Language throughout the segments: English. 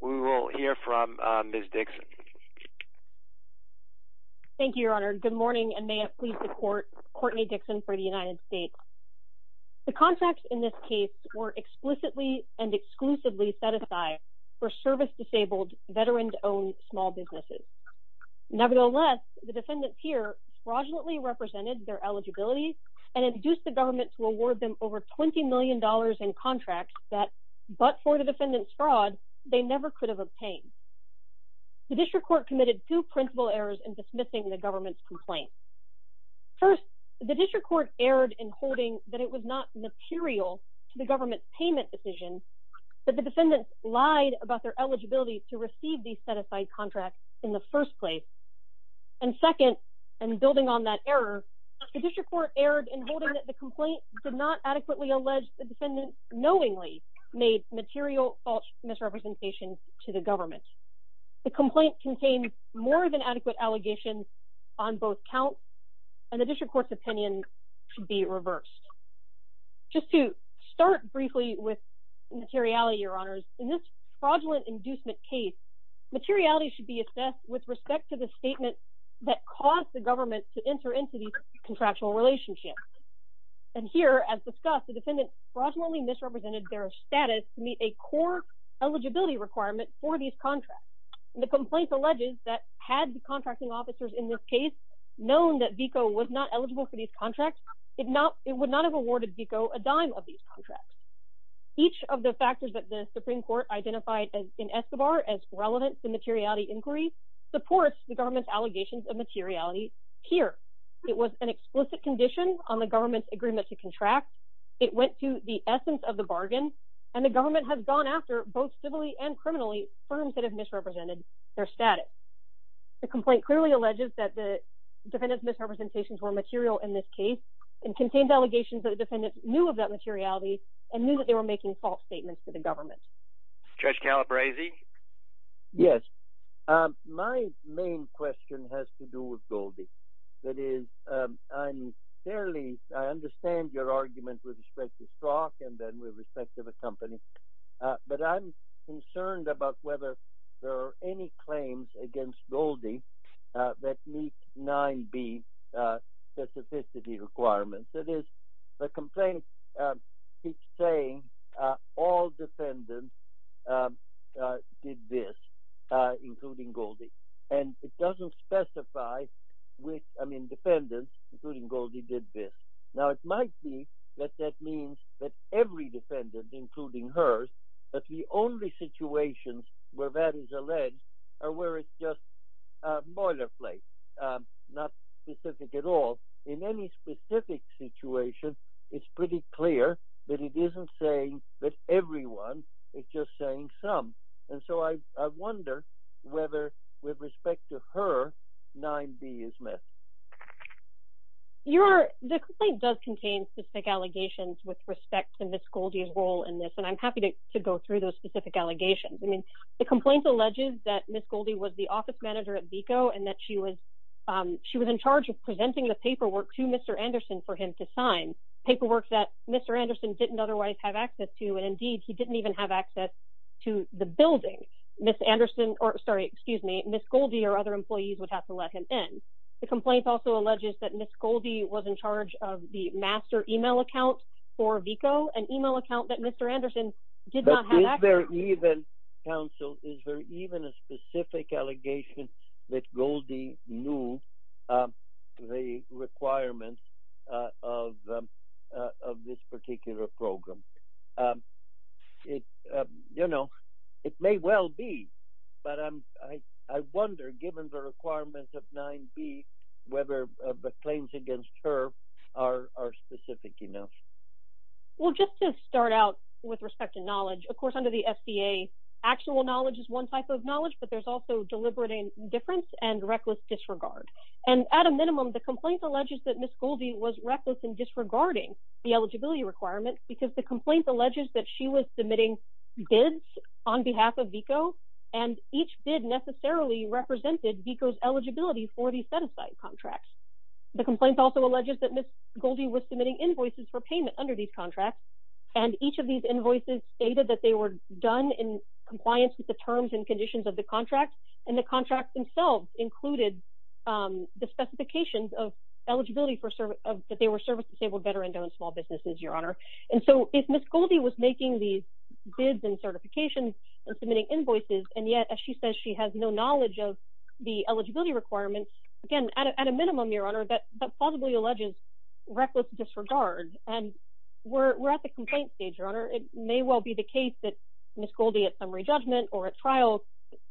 We will hear from Ms. Dixon. Thank you, Your Honor. Good morning and may it please the Court, Courtney Dixon for the United States. The contracts in this case were explicitly and exclusively set aside for service-disabled, veteran-owned small businesses. Nevertheless, the defendants here fraudulently represented their eligibility and induced the government to award them over $20 million in contracts that, but for the defendant's fraud, they never could have obtained. The District Court committed two principal errors in dismissing the government's complaint. First, the District Court erred in holding that it was not material to the government's payment decision that the defendants lied about their eligibility to receive these set aside contracts in the first place. And second, and building on that error, the District Court erred in holding that the complaint did not adequately allege the defendants knowingly made material false misrepresentations to the government. The complaint contained more than adequate allegations on both counts and the District Court's opinion should be reversed. Just to start briefly with materiality, Your Honors, in this fraudulent inducement case, materiality should be assessed with respect to the statement that caused the government to enter into these contractual relationships. And here, as discussed, the defendants fraudulently misrepresented their status to meet a core eligibility requirement for these contracts. The complaint alleges that had the contracting officers in this case known that VICO was not eligible for these contracts, it would not have awarded VICO a dime of these contracts. Each of the factors that the Supreme Court identified in Escobar as relevant to materiality inquiry supports the government's allegations of materiality here. It was an explicit condition on the government's agreement to contract, it went to the essence of the bargain, and the government has gone after both civilly and criminally firms that have misrepresented their status. The complaint clearly alleges that the defendants' misrepresentations were material in this case and contained allegations that the defendants knew of that materiality and knew that they were making false statements to the government. Judge Calabresi? Yes. My main question has to do with Goldie. That is, I'm fairly, I understand your argument with respect to Strock and then with respect to the company, but I'm concerned about whether there are any claims against Goldie that meet 9B specificity requirements. That is, the complaint keeps saying all defendants did this, including Goldie, and it doesn't specify which, I mean, defendants, including Goldie, did this. Now, it might be that that means that every defendant, including hers, that the only situations where that is alleged are where it's boilerplate, not specific at all. In any specific situation, it's pretty clear that it isn't saying that everyone, it's just saying some, and so I wonder whether, with respect to her, 9B is missed. The complaint does contain specific allegations with respect to Ms. Goldie's role in this, and I'm happy to go through those specific allegations. I mean, the complaint alleges that Ms. Goldie was the office manager at VECO and that she was in charge of presenting the paperwork to Mr. Anderson for him to sign, paperwork that Mr. Anderson didn't otherwise have access to, and indeed, he didn't even have access to the building. Ms. Anderson, or sorry, excuse me, Ms. Goldie or other employees would have to let him in. The complaint also alleges that Ms. Goldie was in charge of the master email account for VECO, an email account that Mr. Anderson did not have access to. Is there even, counsel, is there even a specific allegation that Goldie knew the requirements of this particular program? You know, it may well be, but I wonder, given the requirements of 9B, whether the claims against her are specific enough. Well, just to start out with respect to knowledge, of course, under the SBA, actual knowledge is one type of knowledge, but there's also deliberate indifference and reckless disregard. And at a minimum, the complaint alleges that Ms. Goldie was reckless in disregarding the eligibility requirements because the complaint alleges that she was submitting bids on behalf of VECO, and each bid necessarily represented VECO's eligibility for the set-aside contracts. The complaint also alleges that Ms. Goldie was submitting invoices for payment under these contracts, and each of these invoices stated that they were done in compliance with the terms and conditions of the contract, and the contract themselves included the specifications of eligibility for service, that they were service-disabled, veteran-owned small businesses, Your Honor. And so if Ms. Goldie was making these bids and certifications and submitting invoices, and yet, as she says, she has no knowledge of the eligibility requirements, again, at a minimum, Your Honor, that plausibly alleges reckless disregard. And we're at the complaint stage, Your Honor. It may well be the case that Ms. Goldie, at summary judgment or at trial,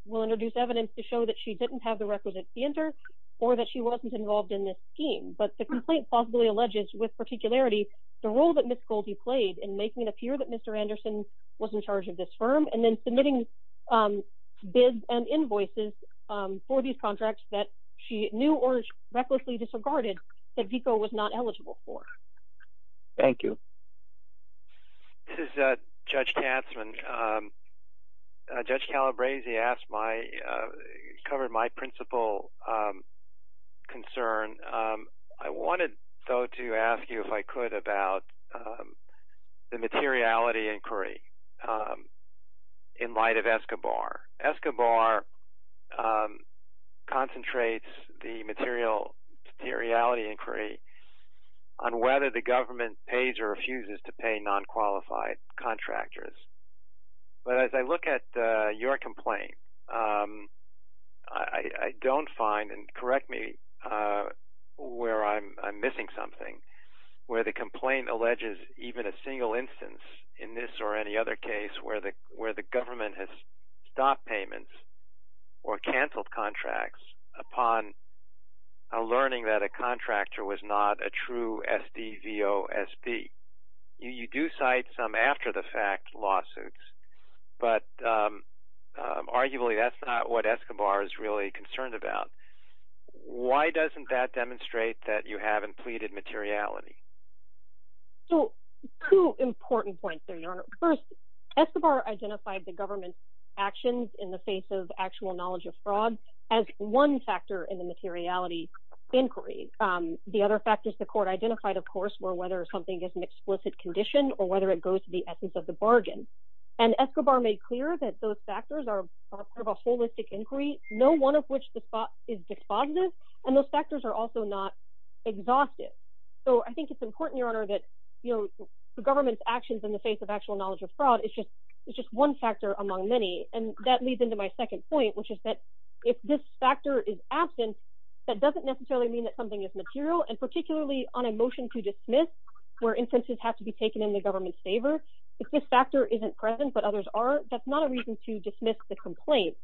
will introduce evidence to show that she didn't have the requisites to enter or that she wasn't involved in this scheme. But the complaint plausibly alleges, with particularity, the role that Ms. Goldie played in making it appear that Mr. Anderson was in charge of this firm, and then submitting bids and invoices for these contracts that she knew or recklessly disregarded that VICO was not eligible for. Thank you. This is Judge Katzman. Judge Calabresi asked my – covered my principal concern. I wanted, though, to ask you, if I could, about the materiality inquiry. In light of Escobar, Escobar concentrates the materiality inquiry on whether the government pays or refuses to pay non-qualified contractors. But as I look at your complaint, I don't find, and correct me where I'm missing something, where the complaint alleges even a single instance in this or any other case where the government has stopped payments or canceled contracts upon learning that a contractor was not a true SDVOSB. You do cite some after-the-fact lawsuits, but arguably that's not what Escobar is really concerned about. Why doesn't that demonstrate that you haven't pleaded materiality? So, two important points there, Your Honor. First, Escobar identified the government's actions in the face of actual knowledge of fraud as one factor in the materiality inquiry. The other factors the court identified, of course, were whether something is an explicit condition or whether it goes to the essence of the bargain. And Escobar made clear that those factors are part of a holistic inquiry, no one of which is dispositive, and those factors are also not exhaustive. So I think it's important, Your Honor, that the government's actions in the face of actual knowledge of fraud is just one factor among many. And that leads into my second point, which is that if this factor is absent, that doesn't necessarily mean that something is material. And particularly on a motion to dismiss, where instances have to be taken in the government's complaint.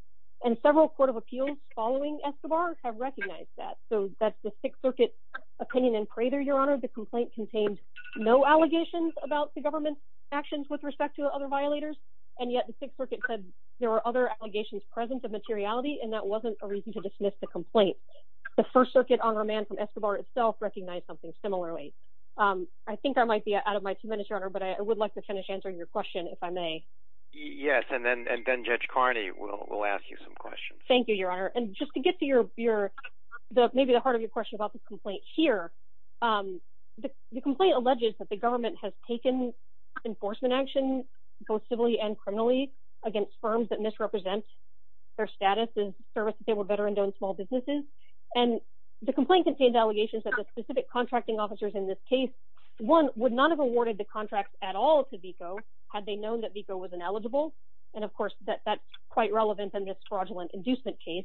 And several court of appeals following Escobar have recognized that. So that's the Sixth Circuit opinion in Prather, Your Honor. The complaint contained no allegations about the government's actions with respect to other violators, and yet the Sixth Circuit said there were other allegations present of materiality, and that wasn't a reason to dismiss the complaint. The First Circuit Honor Man from Escobar itself recognized something similarly. I think I might be out of my two minutes, Your Honor, but I would like to finish your question, if I may. Yes, and then Judge Carney will ask you some questions. Thank you, Your Honor. And just to get to maybe the heart of your question about the complaint here, the complaint alleges that the government has taken enforcement action, both civilly and criminally, against firms that misrepresent their status as services they were better endowed in small businesses. And the complaint contained allegations that the specific contracting officers in this case, one, would not have awarded the contract at all to VECO had they known that VECO was ineligible. And of course, that's quite relevant in this fraudulent inducement case.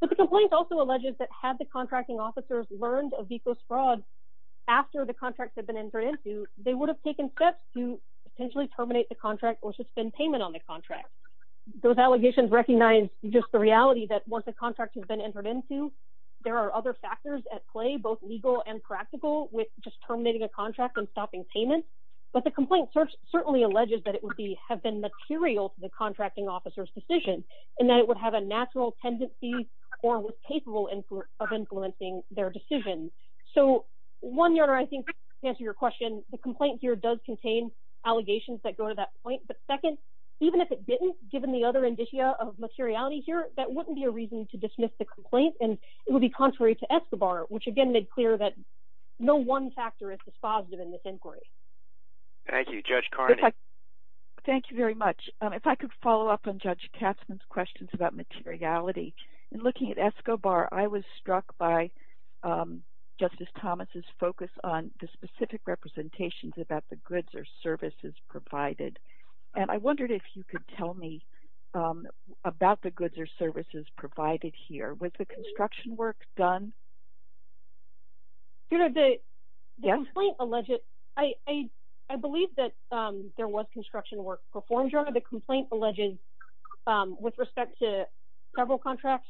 But the complaint also alleges that had the contracting officers learned of VECO's fraud after the contract had been entered into, they would have taken steps to potentially terminate the contract or suspend payment on the contract. Those allegations recognize just the reality that once the contract has been entered into, there are other factors at play, both legal and practical, with just terminating a contract and stopping payment. But the complaint certainly alleges that it would have been material to the contracting officer's decision and that it would have a natural tendency or was capable of influencing their decision. So one, Your Honor, I think to answer your question, the complaint here does contain allegations that go to that point. But second, even if it didn't, given the other indicia of materiality here, that wouldn't be a reason to dismiss the complaint. And it would be contrary to Escobar, which again, made clear that no one factor is dispositive in this inquiry. Thank you, Judge Carney. Thank you very much. If I could follow up on Judge Katzman's questions about materiality. In looking at Escobar, I was struck by Justice Thomas's focus on the specific representations about the goods or services provided. And I wondered if you could tell me about the goods or services provided here. Was construction work done? I believe that there was construction work performed, Your Honor. The complaint alleges with respect to several contracts,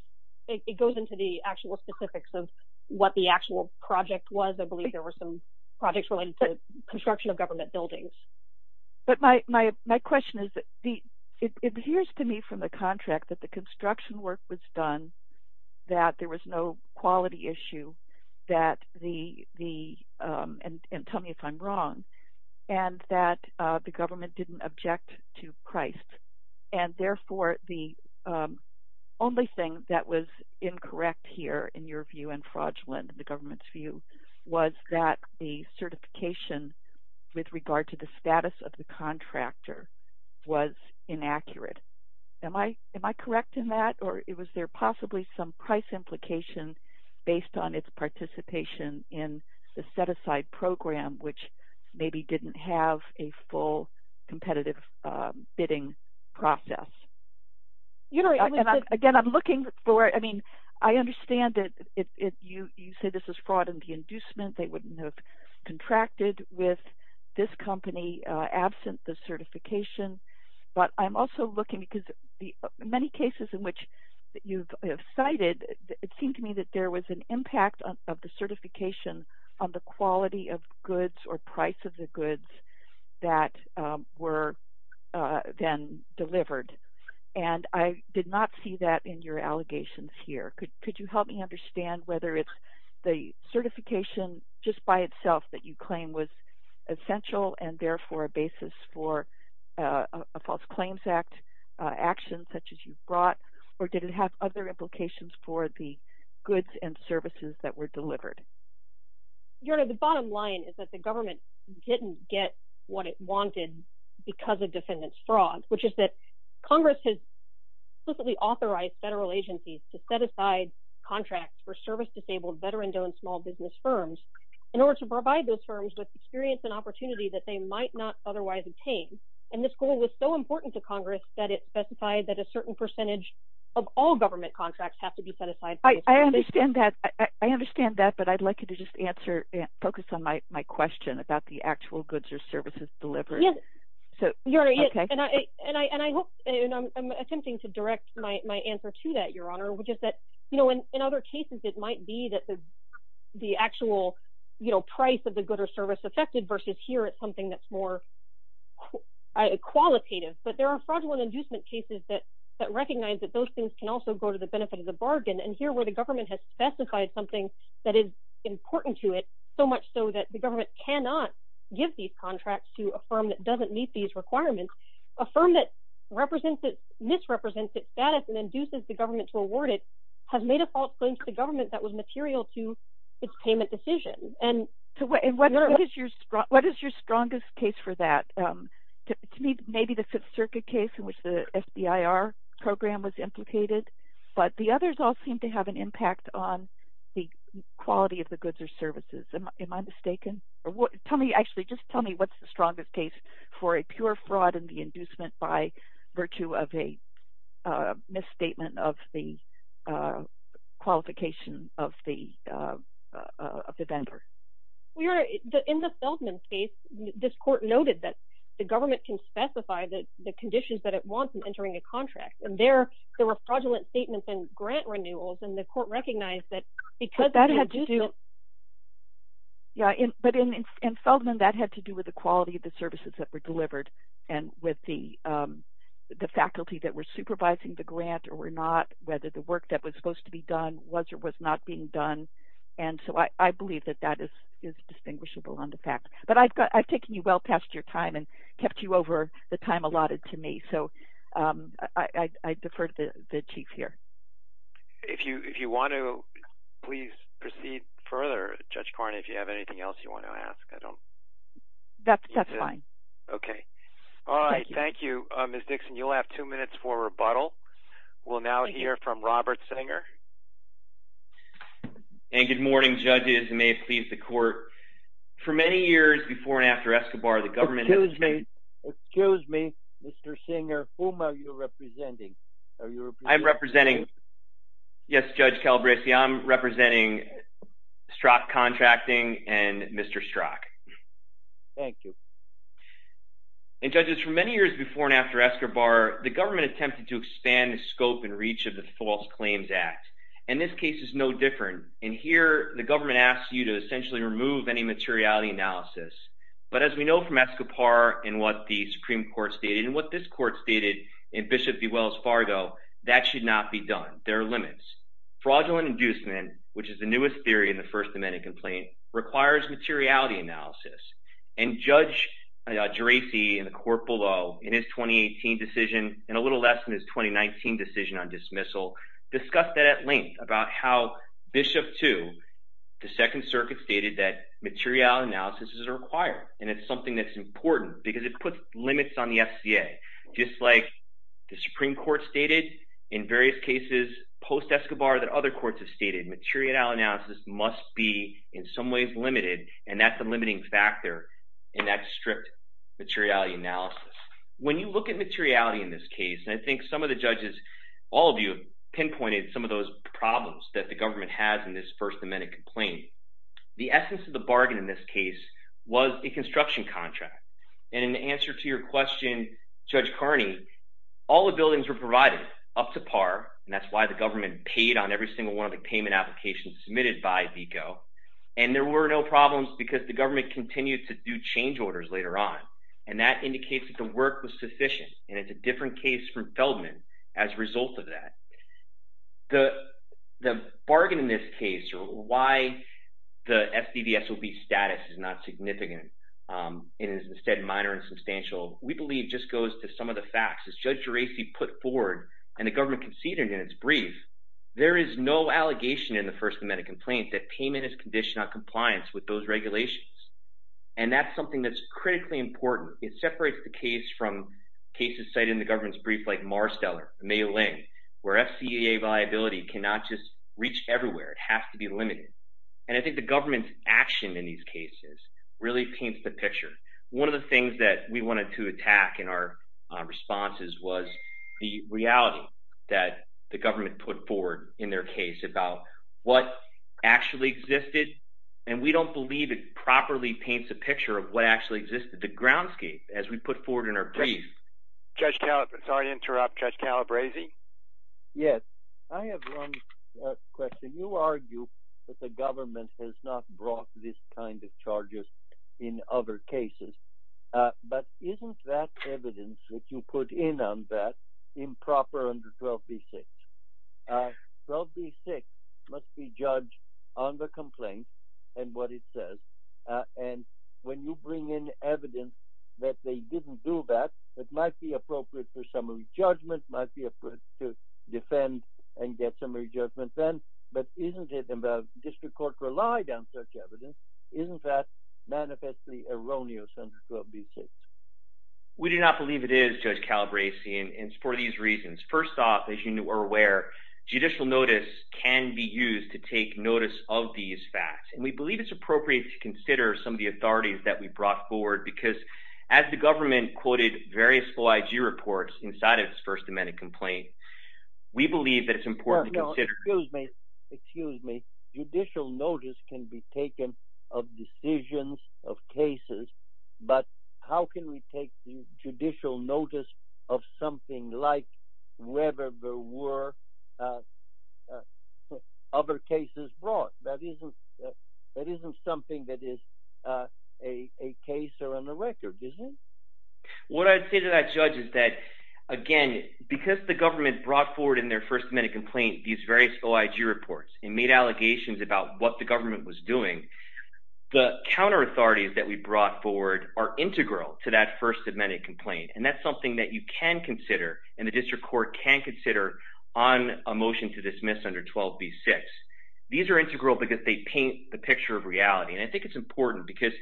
it goes into the actual specifics of what the actual project was. I believe there were some projects related to construction of government buildings. But my question is, it adheres to me from the contract that the there was no quality issue, and tell me if I'm wrong, and that the government didn't object to price. And therefore, the only thing that was incorrect here, in your view and fraudulent, the government's view was that the certification with regard to the status of the contractor was inaccurate. Am I correct in that? Or it was there possibly some price implication based on its participation in the set-aside program, which maybe didn't have a full competitive bidding process? You know, again, I'm looking for I mean, I understand that if you say this is fraud in the inducement, they wouldn't have contracted with this company absent the certification. But I'm also looking because the many cases in which you've cited, it seemed to me that there was an impact of the certification on the quality of goods or price of the goods that were then delivered. And I did not see that in your allegations here. Could you help me understand whether it's the certification just by itself that you claim was essential, and therefore a basis for a False Claims Act action such as you've brought? Or did it have other implications for the goods and services that were delivered? You know, the bottom line is that the government didn't get what it wanted, because of defendants fraud, which is that Congress has specifically authorized federal agencies to set aside contracts for service disabled veteran-owned small business firms, in order to provide those firms with experience and that they might not otherwise obtain. And this goal was so important to Congress, that it specified that a certain percentage of all government contracts have to be set aside. I understand that. I understand that. But I'd like you to just answer and focus on my question about the actual goods or services delivered. And I'm attempting to direct my answer to that, Your Honor, which is that, you know, in other cases, it might be that the actual, you know, price of the good or service affected versus here, it's something that's more qualitative. But there are fraudulent inducement cases that recognize that those things can also go to the benefit of the bargain. And here, where the government has specified something that is important to it, so much so that the government cannot give these contracts to a firm that doesn't meet these requirements, a firm that represents it, misrepresents its status and induces the government to award it, has made a false claim to the government that was material to its payment decision. And so what is your strongest case for that? To me, maybe the Fifth Circuit case in which the SBIR program was implicated, but the others all seem to have an impact on the quality of the goods or services. Am I mistaken? Tell me actually, just tell me what's the strongest case for a pure fraud in the inducement by virtue of a misstatement of the qualification of the vendor? In the Feldman case, this court noted that the government can specify the conditions that it wants in entering a contract. And there were fraudulent statements and grant renewals, and the court recognized that because of the inducement... But in Feldman, that had to do with the quality of the services that were delivered and with the faculty that supervising the grant or not, whether the work that was supposed to be done was or was not being done. And so I believe that that is distinguishable on the fact. But I've taken you well past your time and kept you over the time allotted to me. So I defer to the chief here. If you want to, please proceed further, Judge Carney, if you have anything else you want to ask. That's fine. Okay. All right. Thank you, Ms. Dixon. You'll have two minutes for rebuttal. We'll now hear from Robert Singer. And good morning, judges, and may it please the court. For many years before and after Escobar, the government... Excuse me. Excuse me, Mr. Singer. Whom are you representing? I'm representing... Yes, Judge Calabresi. I'm representing Strzok Contracting and Mr. Strzok. Thank you. And judges, for many years before and after Escobar, the government attempted to expand the scope and reach of the False Claims Act. And this case is no different. In here, the government asks you to essentially remove any materiality analysis. But as we know from Escobar and what the Supreme Court stated and what this court stated in Bishop V. Wells Fargo, that should not be done. There are limits. Fraudulent inducement, which is the newest theory in the First Amendment complaint, requires materiality analysis. And Judge Geraci, in the court below, in his 2018 decision, and a little less in his 2019 decision on dismissal, discussed that at length about how Bishop II, the Second Circuit stated that material analysis is required. And it's something that's important because it puts limits on the SCA. Just like the Supreme Court stated in various cases post-Escobar that other courts have stated, material analysis must be in some ways limited, and that's a limiting factor in that strict materiality analysis. When you look at materiality in this case, and I think some of the judges, all of you, pinpointed some of those problems that the government has in this First Amendment complaint. The essence of the bargain in this case was a construction contract. And in answer to your question, Judge Carney, all the buildings were government paid on every single one of the payment applications submitted by VICO. And there were no problems because the government continued to do change orders later on. And that indicates that the work was sufficient. And it's a different case from Feldman as a result of that. The bargain in this case, or why the SDVSOB status is not significant, and is instead minor and substantial, we believe just goes to some of the facts. As Judge Geraci put forward, and the government conceded in its brief, there is no allegation in the First Amendment complaint that payment is conditioned on compliance with those regulations. And that's something that's critically important. It separates the case from cases cited in the government's brief, like Marsteller, the mail-in, where FCAA viability cannot just reach everywhere. It has to be limited. And I think the government's action in these cases really paints the picture. One of the things that we wanted to attack in our responses was the reality that the government put forward in their case about what actually existed. And we don't believe it properly paints a picture of what actually existed, the groundscape, as we put forward in our brief. Judge Calabresi? Yes, I have one question. You argue that the government has not brought this kind of charges in other cases. But isn't that evidence that you put in on that improper under 12b-6? 12b-6 must be judged on the complaint and what it says. And when you bring in evidence that they didn't do that, it might be appropriate for summary judgment, might be appropriate to defend and get summary judgment then. But isn't it, and the district court relied on such evidence, isn't that manifestly erroneous under 12b-6? We do not believe it is, Judge Calabresi, and it's for these reasons. First off, as you are aware, judicial notice can be used to take notice of these facts. And we believe it's appropriate to consider some of the authorities that we brought forward. Because as the government quoted various FOIA IG reports inside of this First Amendment complaint, we believe that it's important to consider... No, no, excuse me, excuse me. Judicial notice can be taken of decisions of cases, but how can we take judicial notice of something like whether there were other cases brought? That isn't something that is a case or on the record, is it? What I'd say to that, Judge, is that, again, because the government brought forward in their First Amendment complaint these various OIG reports and made allegations about what the brought forward are integral to that First Amendment complaint. And that's something that you can consider and the district court can consider on a motion to dismiss under 12b-6. These are integral because they paint the picture of reality. And I think it's important because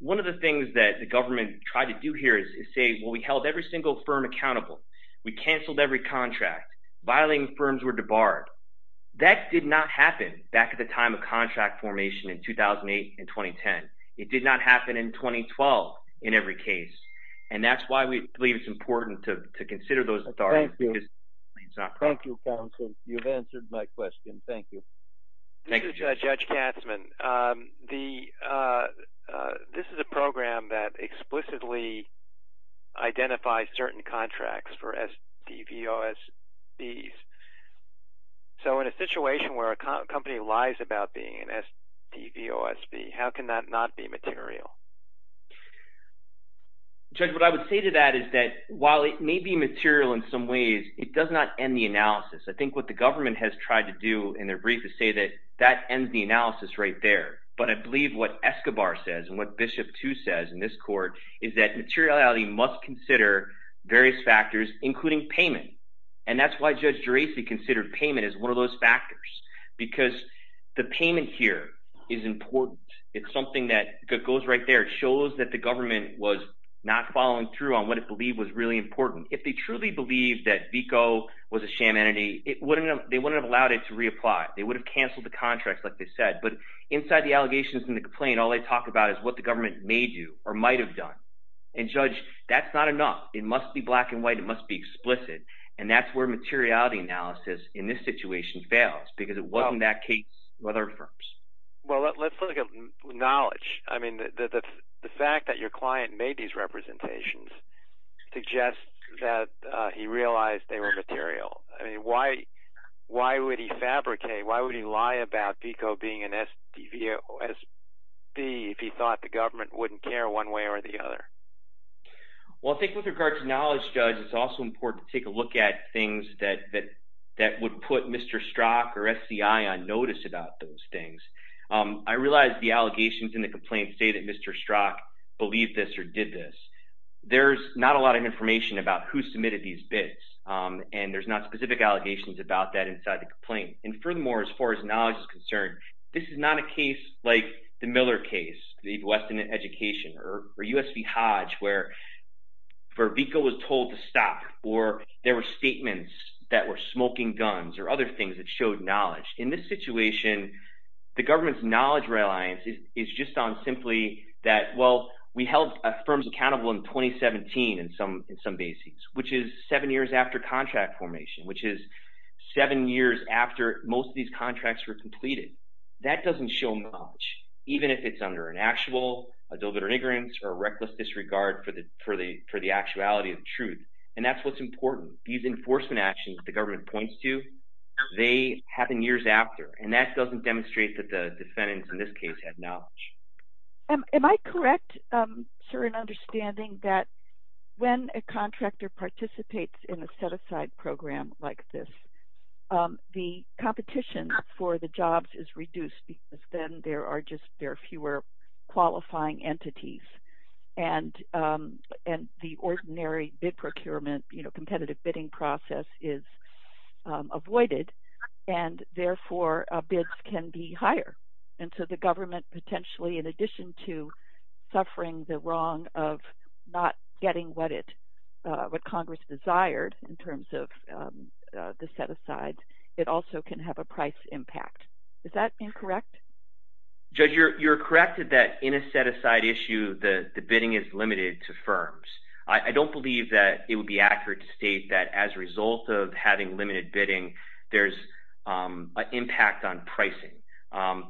one of the things that the government tried to do here is say, well, we held every single firm accountable. We canceled every contract. Violating firms were debarred. That did not happen in 2012 in every case. And that's why we believe it's important to consider those authorities. Thank you, counsel. You've answered my question. Thank you. Thank you, Judge Katzman. This is a program that explicitly identifies certain contracts for STVOSBs. So in a situation where a company lies about being an STVOSB, how can that not be material? Judge, what I would say to that is that while it may be material in some ways, it does not end the analysis. I think what the government has tried to do in their brief is say that that ends the analysis right there. But I believe what Escobar says and what Bishop Too says in this court is that materiality must consider various factors, including payment. And that's why Judge Geraci considered payment as one of those factors, because the payment here is important. It's shows that the government was not following through on what it believed was really important. If they truly believed that VICO was a sham entity, they wouldn't have allowed it to reapply. They would have canceled the contracts, like they said. But inside the allegations and the complaint, all they talk about is what the government may do or might have done. And Judge, that's not enough. It must be black and white. It must be explicit. And that's where materiality analysis in this situation fails, because it wasn't that case with other firms. Well, let's look at knowledge. I mean, the fact that your client made these representations suggests that he realized they were material. I mean, why would he fabricate? Why would he lie about VICO being an SDVOSB if he thought the government wouldn't care one way or the other? Well, I think with regard to knowledge, Judge, it's also important to take a look at things that would put Mr. Strzok or SCI on notice about those things. I realize the allegations in the complaint say that Mr. Strzok believed this or did this. There's not a lot of information about who submitted these bits, and there's not specific allegations about that inside the complaint. And furthermore, as far as knowledge is concerned, this is not a case like the Miller case, the Weston education, or U.S. v. Hodge, where VICO was told to stop, or there were statements that were smoking guns or other things that showed knowledge. In this situation, the government's knowledge reliance is just on simply that, well, we held a firm accountable in 2017 in some bases, which is seven years after contract formation, which is seven years after most of these contracts were completed. That doesn't show knowledge, even if it's under an actual, a deliberate or ignorance, or a reckless disregard for the actuality of truth. And that's what's important. These enforcement actions the government points to, they happen years after, and that doesn't demonstrate that the defendants in this case had knowledge. Am I correct, sir, in understanding that when a contractor participates in a set-aside program like this, the competition for the jobs is reduced, because then there are just, there are fewer qualifying entities, and the ordinary bid procurement, you know, competitive bidding process is avoided, and therefore bids can be higher. And so the government potentially, in addition to the set-asides, it also can have a price impact. Is that incorrect? Judge, you're correct that in a set-aside issue, the bidding is limited to firms. I don't believe that it would be accurate to state that as a result of having limited bidding, there's an impact on pricing.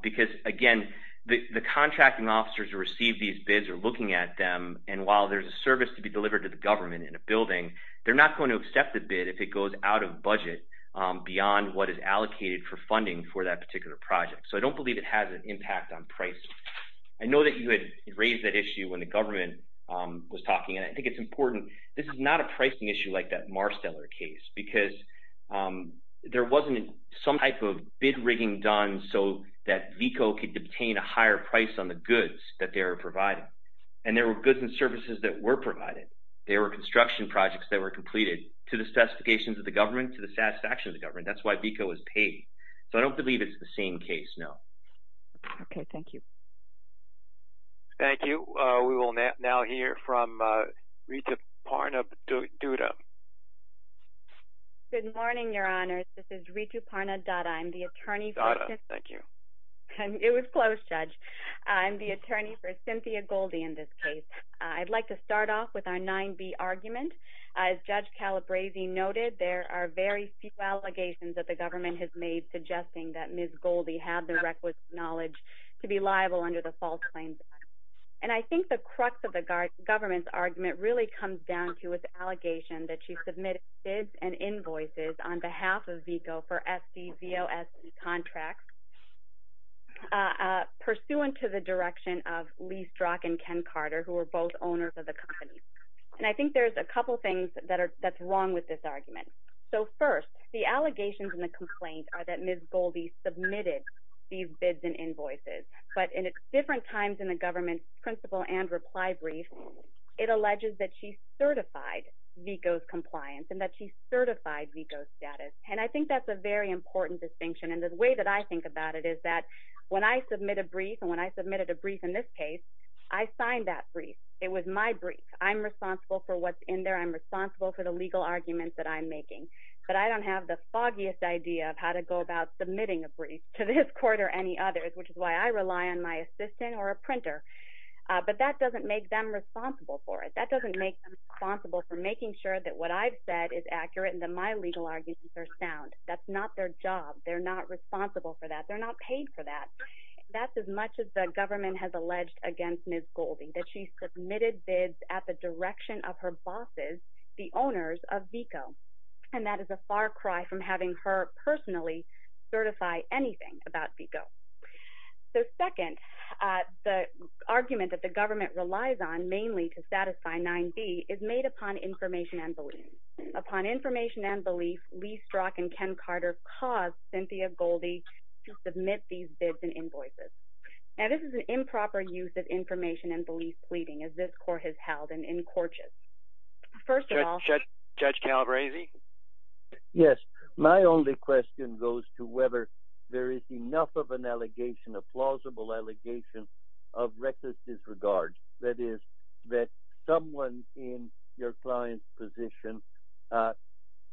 Because again, the contracting officers who receive these bids are looking at them, and while there's a service to be delivered to the government in a building, they're not going to accept the bid if it goes out of budget beyond what is allocated for funding for that particular project. So I don't believe it has an impact on pricing. I know that you had raised that issue when the government was talking, and I think it's important. This is not a pricing issue like that Marsteller case, because there wasn't some type of bid rigging done so that VECO could obtain a higher price on the goods that they are providing. And there were goods and services that were provided. There were construction projects that were completed to the specifications of the government, to the satisfaction of the government. That's why VECO is paid. So I don't believe it's the same case, no. Okay, thank you. Thank you. We will now hear from Ritu Parna Dutta. Good morning, Your Honors. This is Ritu Parna Dutta. I'm the attorney for... Dutta, thank you. It was close, Judge. I'm the attorney for Cynthia Goldie in this case. I'd like to start off with our 9B argument. As Judge Calabresi noted, there are very few allegations that the government has made suggesting that Ms. Goldie had the requisite knowledge to be liable under the false claims. And I think the crux of the government's argument really comes down to its allegation that she submitted bids and invoices on behalf of VECO for SDVOS contracts pursuant to the direction of Lee Strock and Ken Carter, who were both owners of the company. And I think there's a couple things that are... that's wrong with this argument. So first, the allegations in the complaint are that Ms. Goldie submitted these bids and invoices, but in different times in the government's principle and reply brief, it alleges that she certified VECO's compliance and that she certified VECO's status. And I think that's a very important distinction. And the way that I think about it is that when I submit a brief, and when I submitted a brief in this case, I signed that brief. It was my brief. I'm responsible for what's in there. I'm responsible for the legal arguments that I'm making. But I don't have the foggiest idea of how to go about submitting a brief to this court or any others, which is why I rely on my assistant or a printer. But that doesn't make them responsible for it. That doesn't make them responsible for making sure that what I've said is accurate and that my legal arguments are sound. That's not their job. They're not responsible for that. They're not paid for that. That's as much as the government has alleged against Ms. Goldie, that she submitted bids at the direction of her bosses, the owners of VECO. And that is a far cry from having her personally certify anything about VECO. So second, the argument that the government relies on mainly to satisfy 9B is made upon information and belief. Upon information and belief, Lee Strzok and Ken Carter caused Cynthia Goldie to submit these bids and invoices. Now, this is an improper use of information and belief pleading as this court has held and encorches. First of all- Judge Calabresi? Yes. My only question goes to whether there is enough of someone in your client's position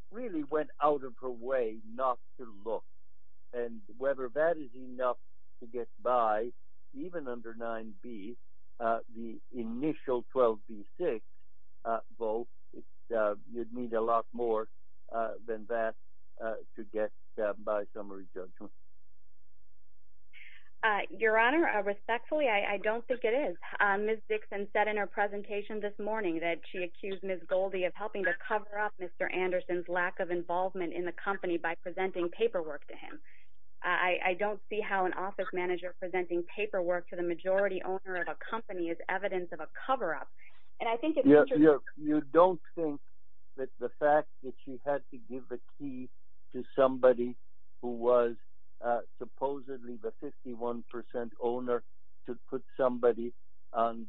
really went out of her way not to look. And whether that is enough to get by, even under 9B, the initial 12B-6 vote, you'd need a lot more than that to get by summary judgment. Your Honor, respectfully, I don't think it is. Ms. Goldie's presentation this morning that she accused Ms. Goldie of helping to cover up Mr. Anderson's lack of involvement in the company by presenting paperwork to him. I don't see how an office manager presenting paperwork to the majority owner of a company is evidence of a cover-up. And I think- You don't think that the fact that she had to give the key to somebody who was supposedly the 51% owner to put somebody on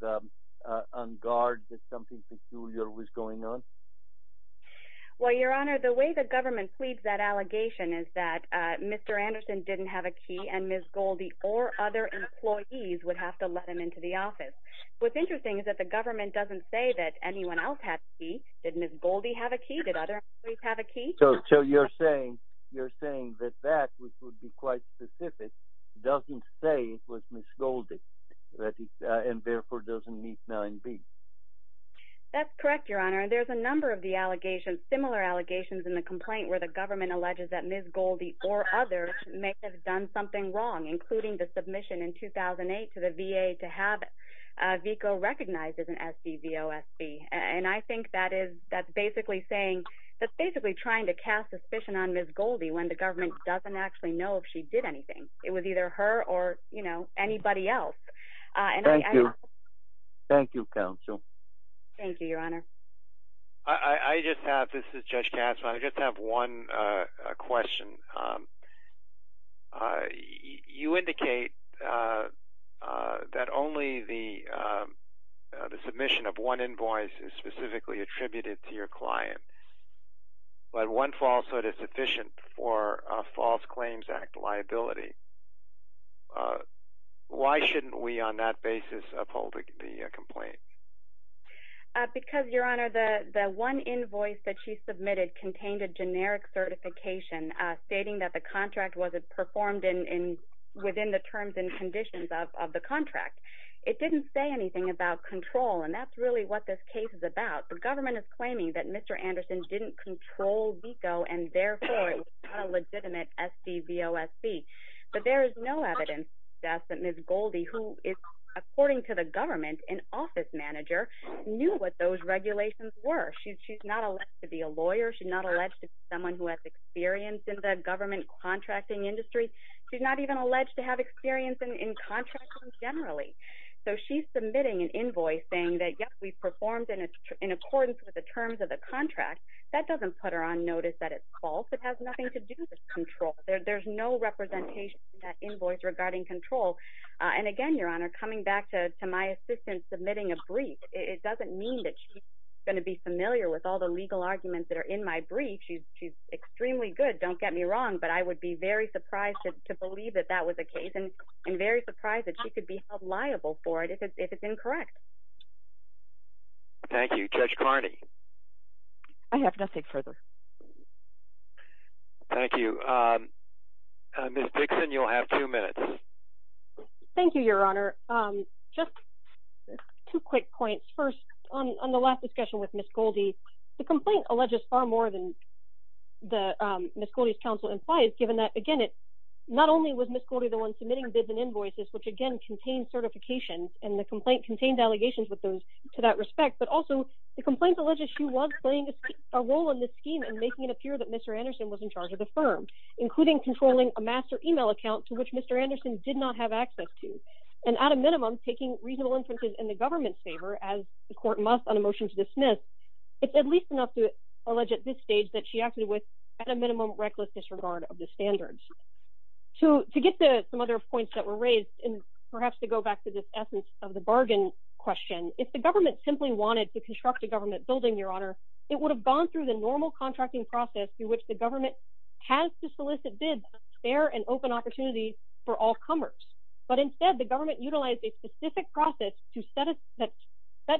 guard that something peculiar was going on? Well, Your Honor, the way the government pleads that allegation is that Mr. Anderson didn't have a key and Ms. Goldie or other employees would have to let him into the office. What's interesting is that the government doesn't say that anyone else had a key. Did Ms. Goldie have a key? Did other employees have a key? So you're saying that that, which would be quite specific, doesn't say it was Ms. Goldie and therefore doesn't meet 9B? That's correct, Your Honor. There's a number of similar allegations in the complaint where the government alleges that Ms. Goldie or others may have done something wrong, including the submission in 2008 to the VA to have VICO recognized as an SCVOSB. And I think that's basically saying- That's basically trying to cast suspicion on Ms. Goldie when the government doesn't actually know if she did anything. It was either her or anybody else. Thank you, counsel. Thank you, Your Honor. This is Judge Kasman. I just have one question. You indicate that only the client is attributable, but one falsehood is sufficient for a False Claims Act liability. Why shouldn't we, on that basis, uphold the complaint? Because, Your Honor, the one invoice that she submitted contained a generic certification stating that the contract wasn't performed within the terms and conditions of the contract. It didn't say anything about control and that's really what this case is about. The government is claiming that Mr. Anderson didn't control VICO and therefore it was not a legitimate SCVOSB. But there is no evidence to suggest that Ms. Goldie, who is, according to the government, an office manager, knew what those regulations were. She's not alleged to be a lawyer. She's not alleged to be someone who has experience in the government contracting industry. She's not even alleged to have experience in contracting generally. So she's submitting an invoice saying that, yes, we performed in accordance with the terms of the contract. That doesn't put her on notice that it's false. It has nothing to do with control. There's no representation in that invoice regarding control. And again, Your Honor, coming back to my assistant submitting a brief, it doesn't mean that she's going to be familiar with all the legal arguments that are in my brief. She's very surprised to believe that that was the case and very surprised that she could be held liable for it if it's incorrect. Thank you. Judge Carney? I have nothing further. Thank you. Ms. Dixon, you'll have two minutes. Thank you, Your Honor. Just two quick points. First, on the last discussion with Ms. Goldie, the complaint alleges far more than Ms. Goldie's counsel implies, given that, again, not only was Ms. Goldie the one submitting bids and invoices, which, again, contain certifications and the complaint contained allegations to that respect, but also the complaint alleges she was playing a role in this scheme and making it appear that Mr. Anderson was in charge of the firm, including controlling a master email account to which Mr. Anderson did not have access to. And at a minimum, taking reasonable inferences in the government's favor, as the court must on a motion to dismiss, it's at least enough to with at a minimum reckless disregard of the standards. To get to some other points that were raised, and perhaps to go back to this essence of the bargain question, if the government simply wanted to construct a government building, Your Honor, it would have gone through the normal contracting process through which the government has to solicit bids to spare an open opportunity for all comers. But instead, the government utilized a specific process to set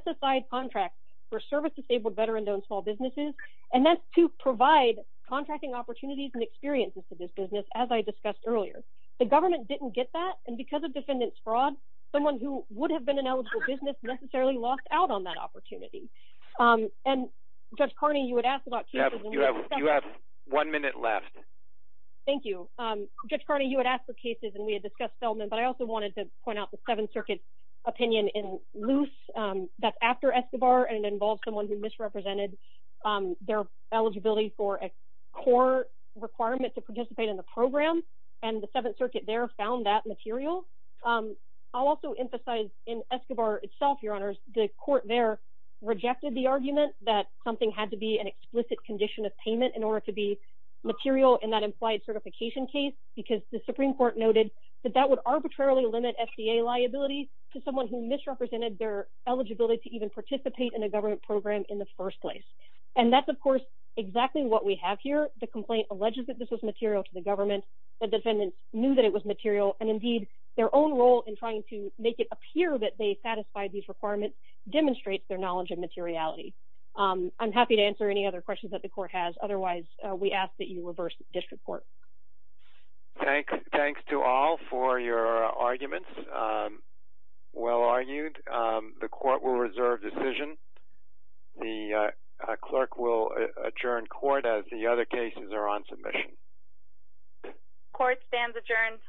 aside contracts for service-disabled veteran-owned small businesses, and that's to provide contracting opportunities and experiences to this business, as I discussed earlier. The government didn't get that, and because of defendants' fraud, someone who would have been an eligible business necessarily lost out on that opportunity. And Judge Carney, you had asked about cases, and we had discussed- You have one minute left. Thank you. Judge Carney, you had asked for cases, and we had discussed Feldman, but I also wanted to point out the Seventh Circuit's opinion in Luce. That's after Escobar, and it involves someone who misrepresented their eligibility for a core requirement to participate in the program, and the Seventh Circuit there found that material. I'll also emphasize in Escobar itself, Your Honor, the court there rejected the argument that something had to be an explicit condition of payment in order to be material in that implied certification case, because the Supreme Court noted that that would arbitrarily limit FDA liability to someone who misrepresented their eligibility to even participate in a government program in the first place. And that's, of course, exactly what we have here. The complaint alleges that this was material to the government. The defendants knew that it was material, and indeed, their own role in trying to make it appear that they satisfied these requirements demonstrates their knowledge and materiality. I'm happy to answer any other questions that the court has. Otherwise, we ask that you reverse this report. Thanks to all for your arguments. Well argued. The court will reserve decision. The clerk will adjourn court as the other cases are on submission. Court stands adjourned.